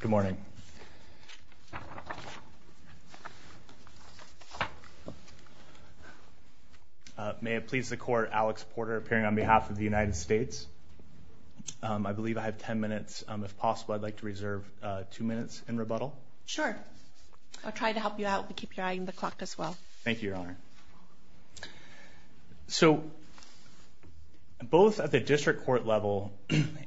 Good morning. May it please the court Alex Porter appearing on behalf of the United States. I believe I have 10 minutes if possible I'd like to reserve two minutes in rebuttal. Sure I'll try to help you out we keep your eye on the clock as well. Thank you your honor. So both at the district court level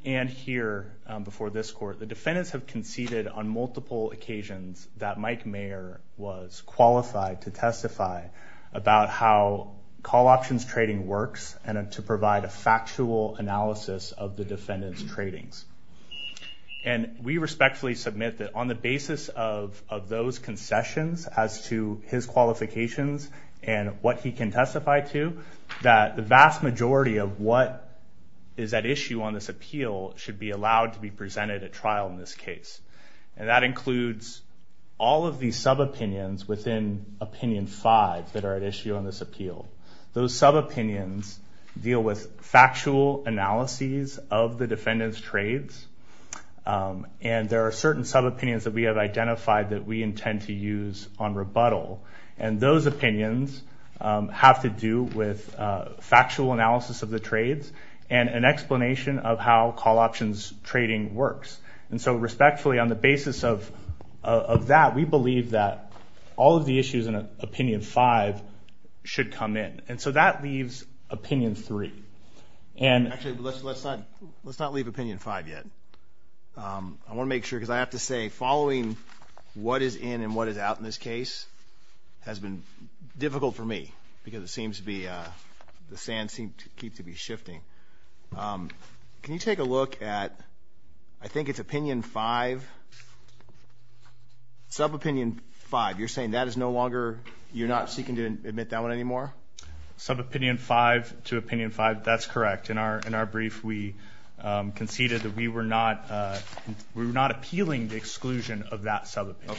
and here before this court the defendants have conceded on multiple occasions that Mike Mayer was qualified to testify about how call options trading works and to provide a factual analysis of the defendants tradings. And we respectfully submit that on the basis of those concessions as to his qualifications and what he can testify to that the vast majority of what is at issue on this appeal should be allowed to be presented at trial in this case. And that includes all of these sub-opinions within opinion 5 that are at issue on this appeal. Those sub-opinions deal with factual analyses of the defendants trades and there are certain sub-opinions that we have identified that we intend to use on rebuttal and those opinions have to do with factual analysis of the trades and explanation of how call options trading works. And so respectfully on the basis of that we believe that all of the issues in opinion 5 should come in. And so that leaves opinion 3. Actually let's not leave opinion 5 yet. I want to make sure because I have to say following what is in and what is out in this case has been difficult for me because it seems to be the sand seem to keep to be shifting. Can you take a look at I think it's opinion 5 sub-opinion 5 you're saying that is no longer you're not seeking to admit that one anymore? Sub-opinion 5 to opinion 5 that's correct. In our brief we conceded that we were not we're not appealing the exclusion of that sub-opinion.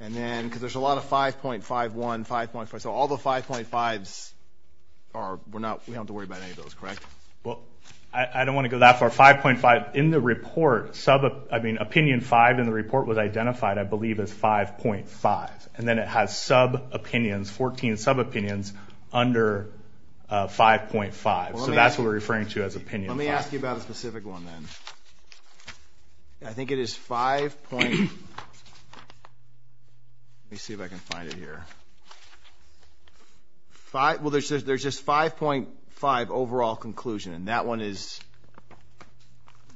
And then because there's a lot of 5.51, 5.4 so all the 5.5's are we're not we don't worry about any of those correct? Well I don't want to go that far 5.5 in the report sub I mean opinion 5 in the report was identified I believe as 5.5 and then it has sub-opinions 14 sub-opinions under 5.5 so that's what we're referring to as opinion 5. Let me ask you about a specific one then. I think it is 5. Let me see if I can find it here. Well there's just there's just 5.5 overall conclusion and that one is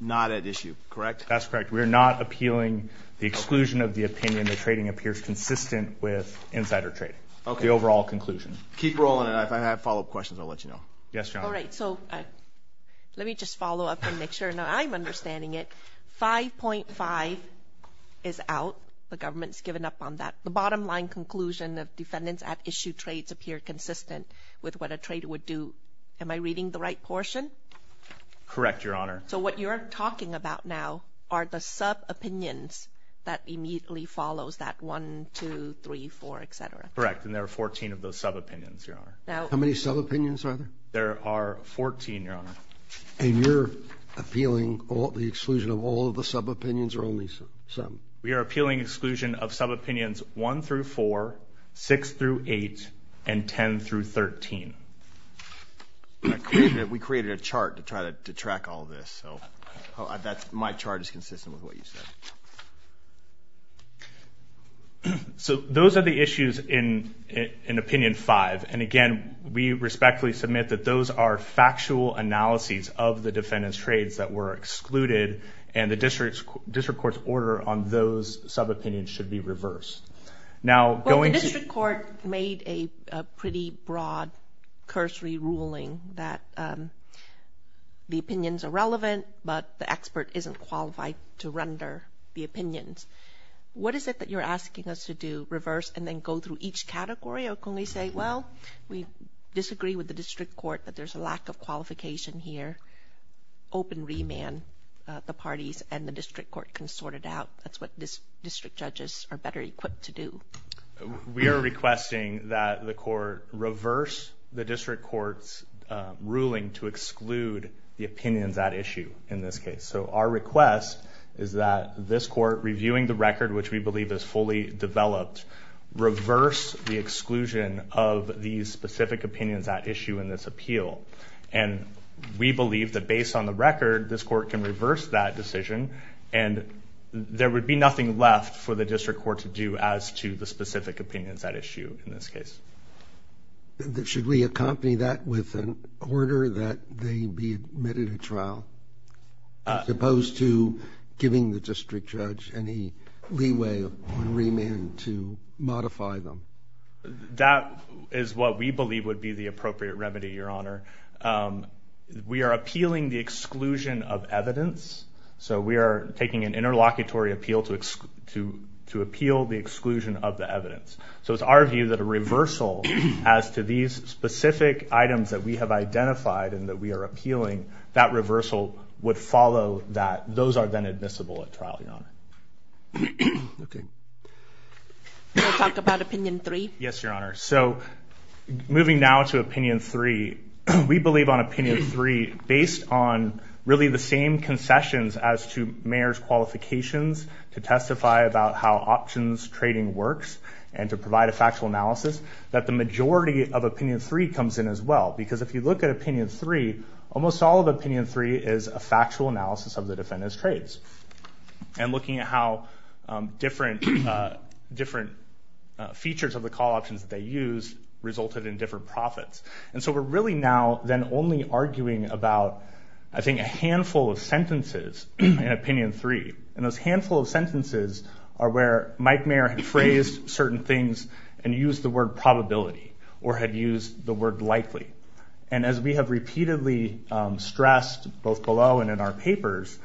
not at issue correct? That's correct we're not appealing the exclusion of the opinion the trading appears consistent with insider trading. Okay. The overall conclusion. Keep rolling and if I have follow-up questions I'll let you know. Yes John. All right so let me just follow up and make sure now I'm understanding it 5.5 is out the government's given up on that the bottom line conclusion of defendants at issue trades appear consistent with what a trader would do. Am I reading the right portion? Correct your honor. So what you're talking about now are the sub opinions that immediately follows that one two three four etc. Correct and there are 14 of those sub opinions your honor. Now how many sub opinions are there? There are 14 your honor. And you're appealing all the exclusion of all of the sub opinions or only some? We are appealing exclusion of sub opinions 1 through 4 6 through 8 and 10 through 13. We created a chart to try to track all this so that's my chart is consistent with what you said. So those are the factual analyses of the defendants trades that were excluded and the district's district court's order on those sub opinions should be reversed. Now going to court made a pretty broad cursory ruling that the opinions are relevant but the expert isn't qualified to render the opinions. What is it that you're asking us to do reverse and then go through each category or can we say well we disagree with the district court but there's a lack of qualification here. Open remand the parties and the district court can sort it out. That's what this district judges are better equipped to do. We are requesting that the court reverse the district courts ruling to exclude the opinions that issue in this case. So our request is that this court reviewing the these specific opinions at issue in this appeal and we believe that based on the record this court can reverse that decision and there would be nothing left for the district court to do as to the specific opinions at issue in this case. Should we accompany that with an order that they be admitted a trial as opposed to giving the district judge any leeway on remand to modify them? That is what we believe would be the appropriate remedy your honor. We are appealing the exclusion of evidence so we are taking an interlocutory appeal to appeal the exclusion of the evidence. So it's our view that a reversal as to these specific items that we have identified and that we are appealing that reversal would follow that. Those are then admissible at trial your honor. We'll talk about opinion three. Yes your honor. So moving now to opinion three we believe on opinion three based on really the same concessions as to mayor's qualifications to testify about how options trading works and to provide a factual analysis that the majority of opinion three comes in as well because if you look at opinion three almost all of opinion three is a factual analysis of the defendant's trades and looking at how different different features of the call options they use resulted in different profits and so we're really now then only arguing about I think a handful of sentences in opinion three and those handful of sentences are where Mike Mayer had phrased certain things and used the word probability or had used the word likely and as we have repeatedly stressed both below and in our papers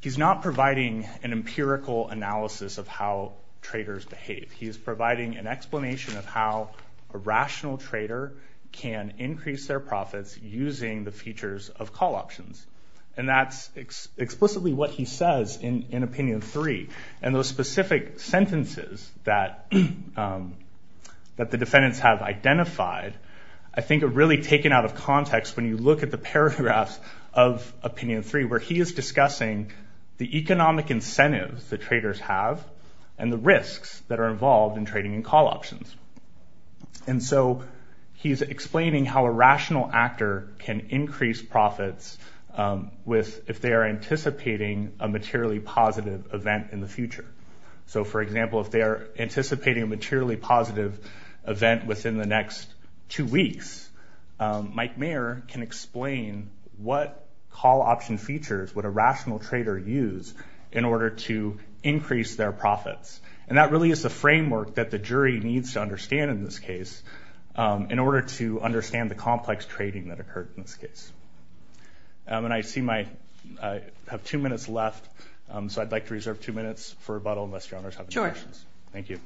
he's not providing an empirical analysis of how traders behave he is providing an explanation of how a rational trader can increase their profits using the features of call options and that's explicitly what he says in in opinion three and those specific sentences that that the defendants have identified I think are really taken out of context when you look at the paragraphs of opinion three where he is discussing the economic incentives the traders have and the risks that are involved in trading in call options and so he's explaining how a rational actor can increase profits with if they are anticipating a so for example if they are anticipating a materially positive event within the next two weeks Mike Mayer can explain what call option features would a rational trader use in order to increase their profits and that really is the framework that the jury needs to understand in this case in order to understand the complex trading that occurred in this case and I see my have two minutes left so I'd like to reserve two minutes for rebuttal unless your owners have any questions. Thank you.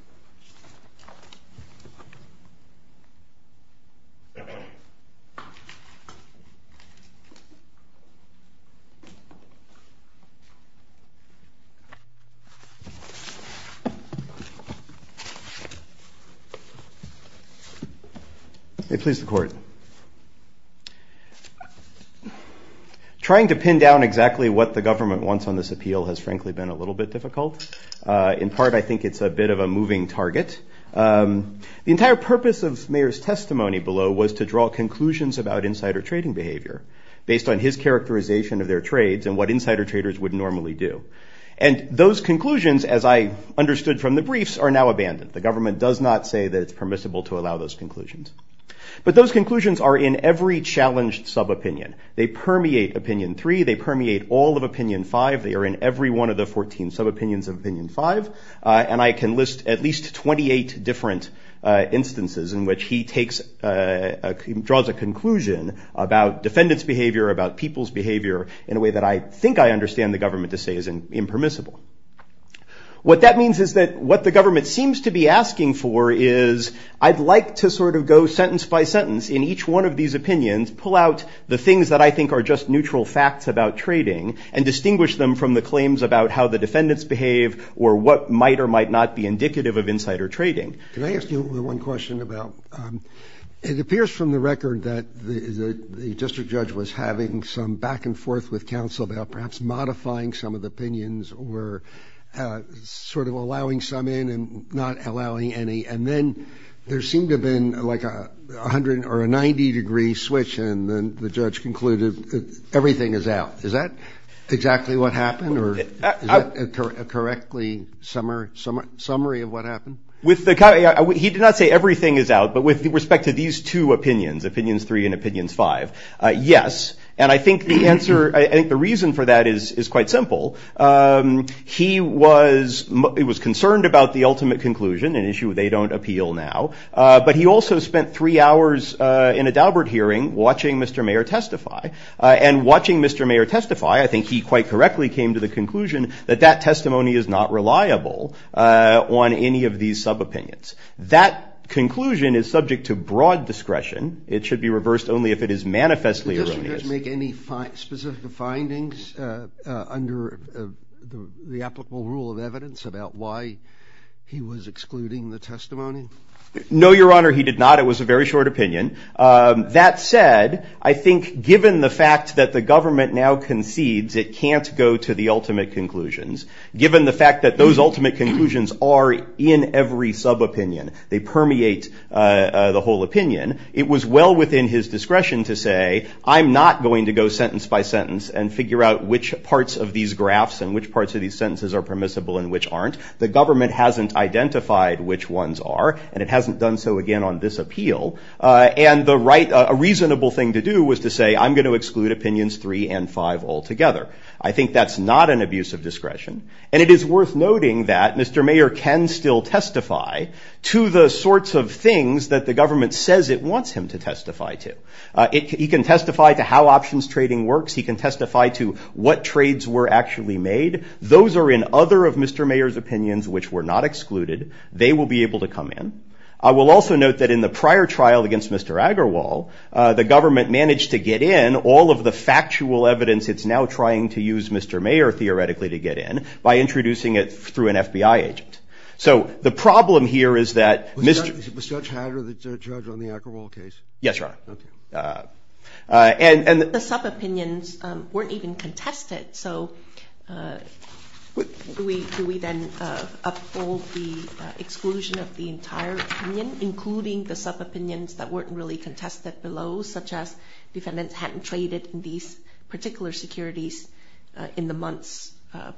It please the court. Trying to pin down exactly what the government wants on this appeal has frankly been a little bit difficult in part I think it's a bit of a moving target the entire purpose of Mayer's testimony below was to draw conclusions about insider trading behavior based on his characterization of their trades and what insider traders would normally do and those conclusions as I understood from the briefs are now abandoned the government does not say that it's permissible to allow those conclusions but those conclusions are in every challenged sub-opinion they permeate opinion 3 they permeate all of opinion 5 they are in every one of the 14 sub-opinions of opinion 5 and I can list at least 28 different instances in which he draws a conclusion about defendants behavior about people's behavior in a way that I think I understand the government to say is impermissible. What that means is that what the government seems to be asking for is I'd like to sort of go sentence by sentence in each one of these opinions pull out the things that I think are just neutral facts about trading and distinguish them from the claims about how the defendants behave or what might or might not be indicative of insider trading. Can I ask you one question about it appears from the record that the district judge was having some back and forth with counsel about perhaps modifying some of the opinions or sort of allowing some in and not allowing any and then there seemed to have been like a hundred or a ninety degree switch and then the judge concluded everything is out is that exactly what happened or is that a correctly summary of what happened? He did not say everything is out but with respect to these two opinions opinions 3 and opinions 5 yes and I think the answer I think the reason for that is is quite simple. He was concerned about the ultimate conclusion an issue they don't appeal now but he also spent three hours in a Daubert hearing watching Mr. Mayer testify and watching Mr. Mayer testify I think he quite correctly came to the conclusion that that testimony is not reliable on any of these sub-opinions. That conclusion is subject to broad discretion it should be reversed only if it is manifestly erroneous. Did the district judge make any specific findings under the applicable rule of evidence about why he was excluding the testimony? No your honor he did not it was a very short opinion that said I think given the fact that the government now concedes it can't go to the ultimate conclusions given the fact that those ultimate conclusions are in every sub-opinion they permeate the whole opinion it was well within his discretion to say I'm not going to go sentence by sentence and figure out which parts of these graphs and which parts of these sentences are permissible and which aren't. The government hasn't identified which ones are and it hasn't done so again on this appeal and the right a reasonable thing to do was to say I'm going to exclude opinions three and five altogether. I think that's not an abuse of discretion and it is worth noting that Mr. Mayer can still testify to the sorts of things that the government says it wants him to testify to. He can testify to how options trading works he can testify to what trades were actually made those are in other of Mr. Mayer's opinions which were not excluded they will be able to come in. I will also note that in the prior trial against Mr. Agarwal the government managed to get in all of the factual evidence it's now trying to use Mr. Mayer theoretically to get in by introducing it through an FBI agent. So the problem here is that Mr. Was Judge Hatter the judge on the Agarwal case? Yes, Your Honor. The sub-opinions weren't even contested so do we then uphold the exclusion of the entire opinion including the sub-opinions that weren't really contested below such as defendants hadn't traded in these particular securities in the months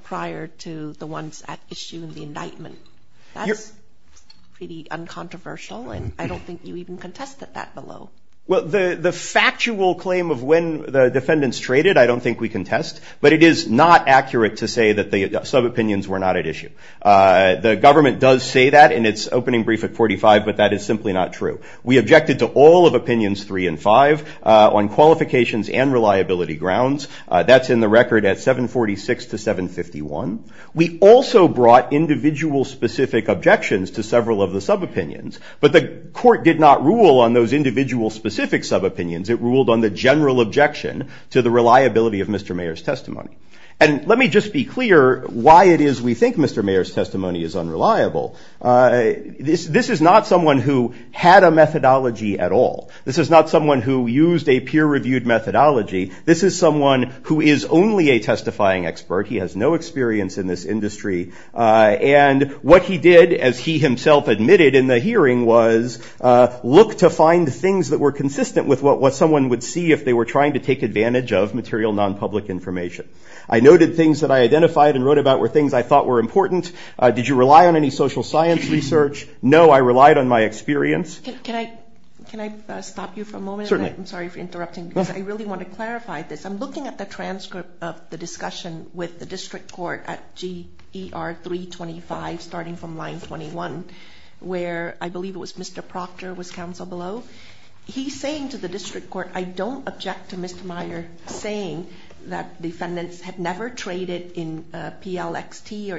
prior to the ones at issue in the indictment. That's pretty uncontroversial and I don't think you even contested that below. Well the the factual claim of when the defendants traded I don't think we contest but it is not accurate to say that the sub-opinions were not at issue. The brief at 45 but that is simply not true. We objected to all of opinions 3 and 5 on qualifications and reliability grounds that's in the record at 746 to 751. We also brought individual specific objections to several of the sub-opinions but the court did not rule on those individual specific sub-opinions it ruled on the general objection to the reliability of Mr. Mayer's testimony. And let me just be clear why it is we think Mr. Mayer's this is not someone who had a methodology at all. This is not someone who used a peer-reviewed methodology. This is someone who is only a testifying expert. He has no experience in this industry and what he did as he himself admitted in the hearing was look to find things that were consistent with what what someone would see if they were trying to take advantage of material non-public information. I noted things that I identified and wrote about were things I thought were important. Did you rely on any social science research? No, I relied on my experience. Can I stop you for a moment? Certainly. I'm sorry for interrupting. I really want to clarify this. I'm looking at the transcript of the discussion with the district court at GER 325 starting from line 21 where I believe it was Mr. Proctor was counsel below. He's saying to the district court I don't object to Mr. Mayer saying that defendants have never traded in PLXT or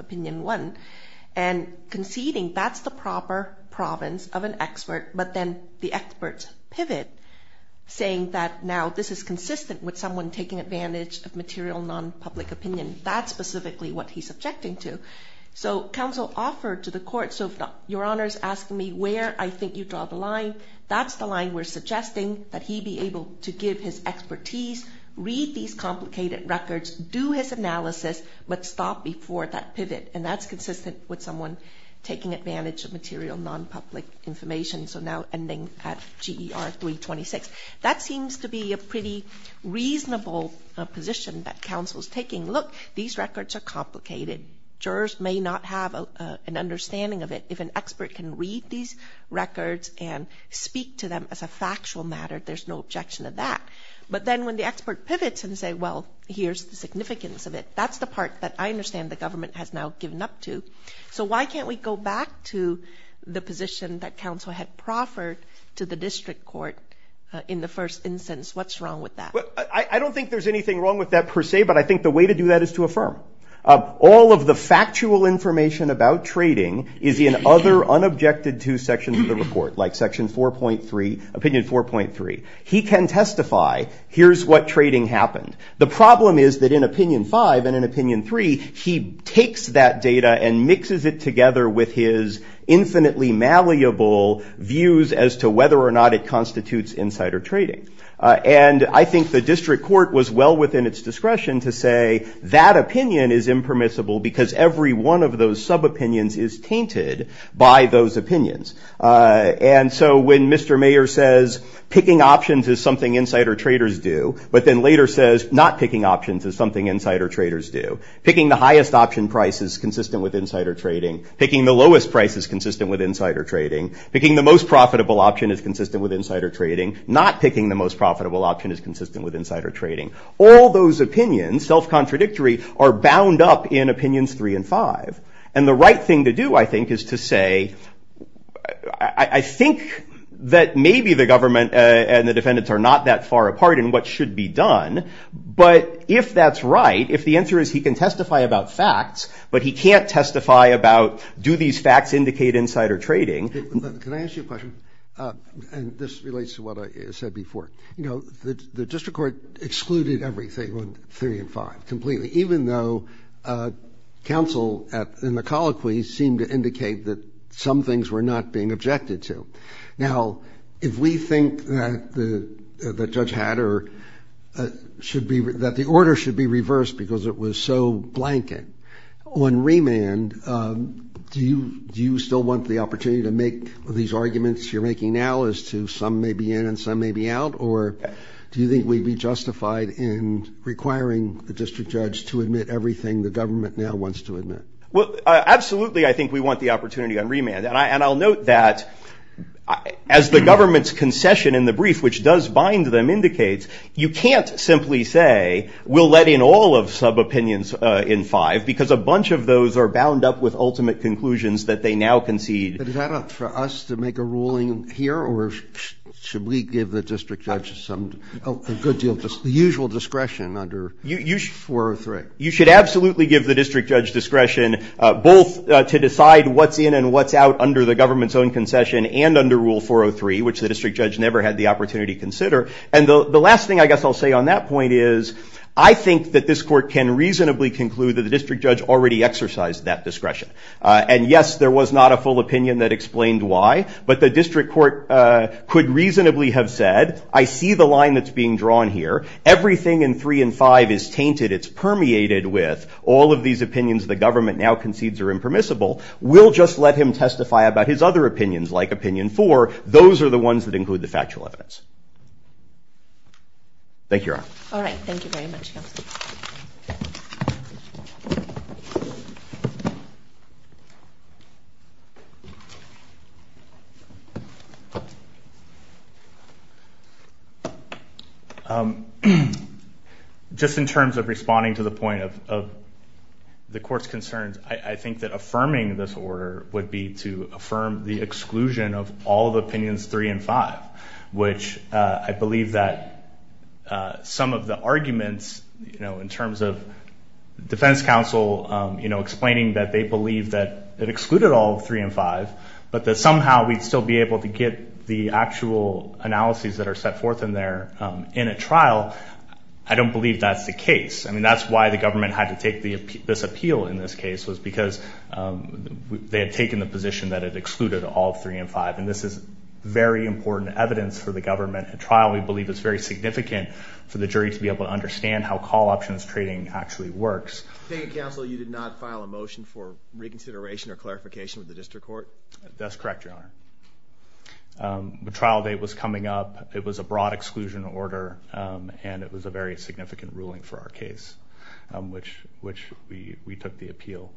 Opinion 1 and conceding that's the proper province of an expert but then the experts pivot saying that now this is consistent with someone taking advantage of material non-public opinion. That's specifically what he's objecting to. So counsel offered to the court so if your Honor's asking me where I think you draw the line that's the line we're suggesting that he be able to give his expertise, read these complicated records, do his analysis but stop before that and that's consistent with someone taking advantage of material non-public information so now ending at GER 326. That seems to be a pretty reasonable position that counsel's taking. Look, these records are complicated. Jurors may not have an understanding of it. If an expert can read these records and speak to them as a factual matter there's no objection to that but then when the expert pivots and say well here's the significance of it that's the part that I understand the government has now given up to so why can't we go back to the position that counsel had proffered to the district court in the first instance. What's wrong with that? I don't think there's anything wrong with that per se but I think the way to do that is to affirm. All of the factual information about trading is in other unobjected to sections of the report like section 4.3 opinion 4.3. He can testify here's what trading happened. The problem is that in opinion 3 he takes that data and mixes it together with his infinitely malleable views as to whether or not it constitutes insider trading and I think the district court was well within its discretion to say that opinion is impermissible because every one of those sub opinions is tainted by those opinions and so when Mr. Mayer says picking options is something insider traders do but then later says not picking options is something insider traders do. Picking the highest option price is consistent with insider trading. Picking the lowest price is consistent with insider trading. Picking the most profitable option is consistent with insider trading. Not picking the most profitable option is consistent with insider trading. All those opinions self contradictory are bound up in opinions three and five and the right thing to do I think is to say I think that maybe the government and the defendants are not that far apart in what should be done but if that's right if the answer is he can testify about facts but he can't testify about do these facts indicate insider trading. Can I ask you a question? And this relates to what I said before. You know the district court excluded everything on three and five completely even though counsel in the colloquy seemed to indicate that some being objected to. Now if we think that the judge had or should be that the order should be reversed because it was so blanket on remand do you do you still want the opportunity to make these arguments you're making now as to some may be in and some may be out or do you think we'd be justified in requiring the district judge to admit everything the government now wants to admit? Well I think that as the government's concession in the brief which does bind them indicates you can't simply say we'll let in all of sub-opinions in five because a bunch of those are bound up with ultimate conclusions that they now concede. Is that up for us to make a ruling here or should we give the district judge the usual discretion under four or three? You should absolutely give the district judge discretion both to decide what's in and what's out under the government's own concession and under rule 403 which the district judge never had the opportunity to consider and the last thing I guess I'll say on that point is I think that this court can reasonably conclude that the district judge already exercised that discretion and yes there was not a full opinion that explained why but the district court could reasonably have said I see the line that's being drawn here everything in three and five is tainted it's permeated with all of these opinions the government now concedes are and testify about his other opinions like opinion four those are the ones that include the factual evidence. Thank you Your Honor. Alright, thank you very much counsel. Just in terms of responding to the point of the court's concerns I think that there is a need to affirm the exclusion of all the opinions three and five which I believe that some of the arguments you know in terms of defense counsel you know explaining that they believe that it excluded all three and five but that somehow we'd still be able to get the actual analyses that are set forth in there in a trial I don't believe that's the case I mean that's why the government had to take this appeal in this case was because they had taken the position that it excluded all three and five and this is very important evidence for the government at trial we believe it's very significant for the jury to be able to understand how call options trading actually works. Thank you counsel you did not file a motion for reconsideration or clarification with the district court? That's correct Your Honor. The trial date was coming up it was a broad exclusion order and it was a very significant ruling for our case which which we we took the appeal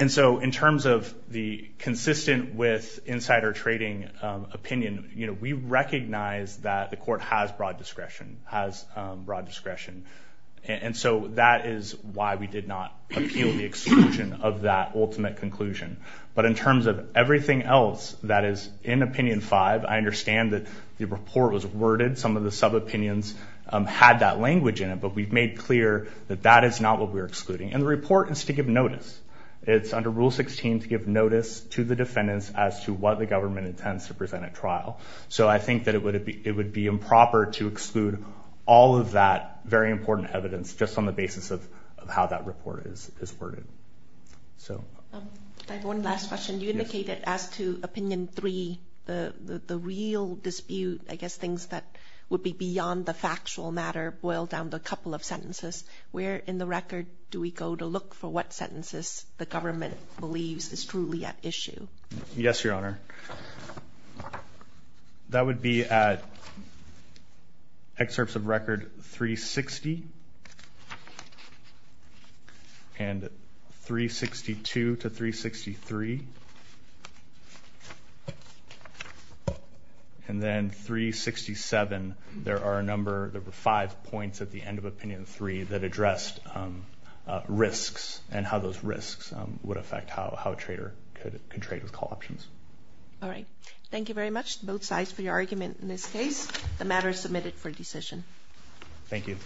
and so in terms of the consistent with insider trading opinion you know we recognize that the court has broad discretion has broad discretion and so that is why we did not appeal the exclusion of that ultimate conclusion but in terms of everything else that is in opinion five I understand that the report was worded some of the sub opinions had that language in it but we've made clear that that is not what we're excluding and the report is to give notice it's under rule 16 to give notice to the defendants as to what the government intends to present at trial so I think that it would it would be improper to exclude all of that very important evidence just on the basis of how that report is is worded. So one last question you indicated as to opinion three the the real dispute I guess things that would be beyond the factual matter boiled down to a couple of sentences where in the record do we go to look for what sentences the government believes is truly at issue? Yes your honor that would be at excerpts of record 360 and 362 to 363 and then 367 there are a number there were five points at the end of opinion three that addressed risks and how those risks would affect how how a trader could trade with call options. All right thank you very much both sides for your argument in this case the matter is submitted for decision. Thank you.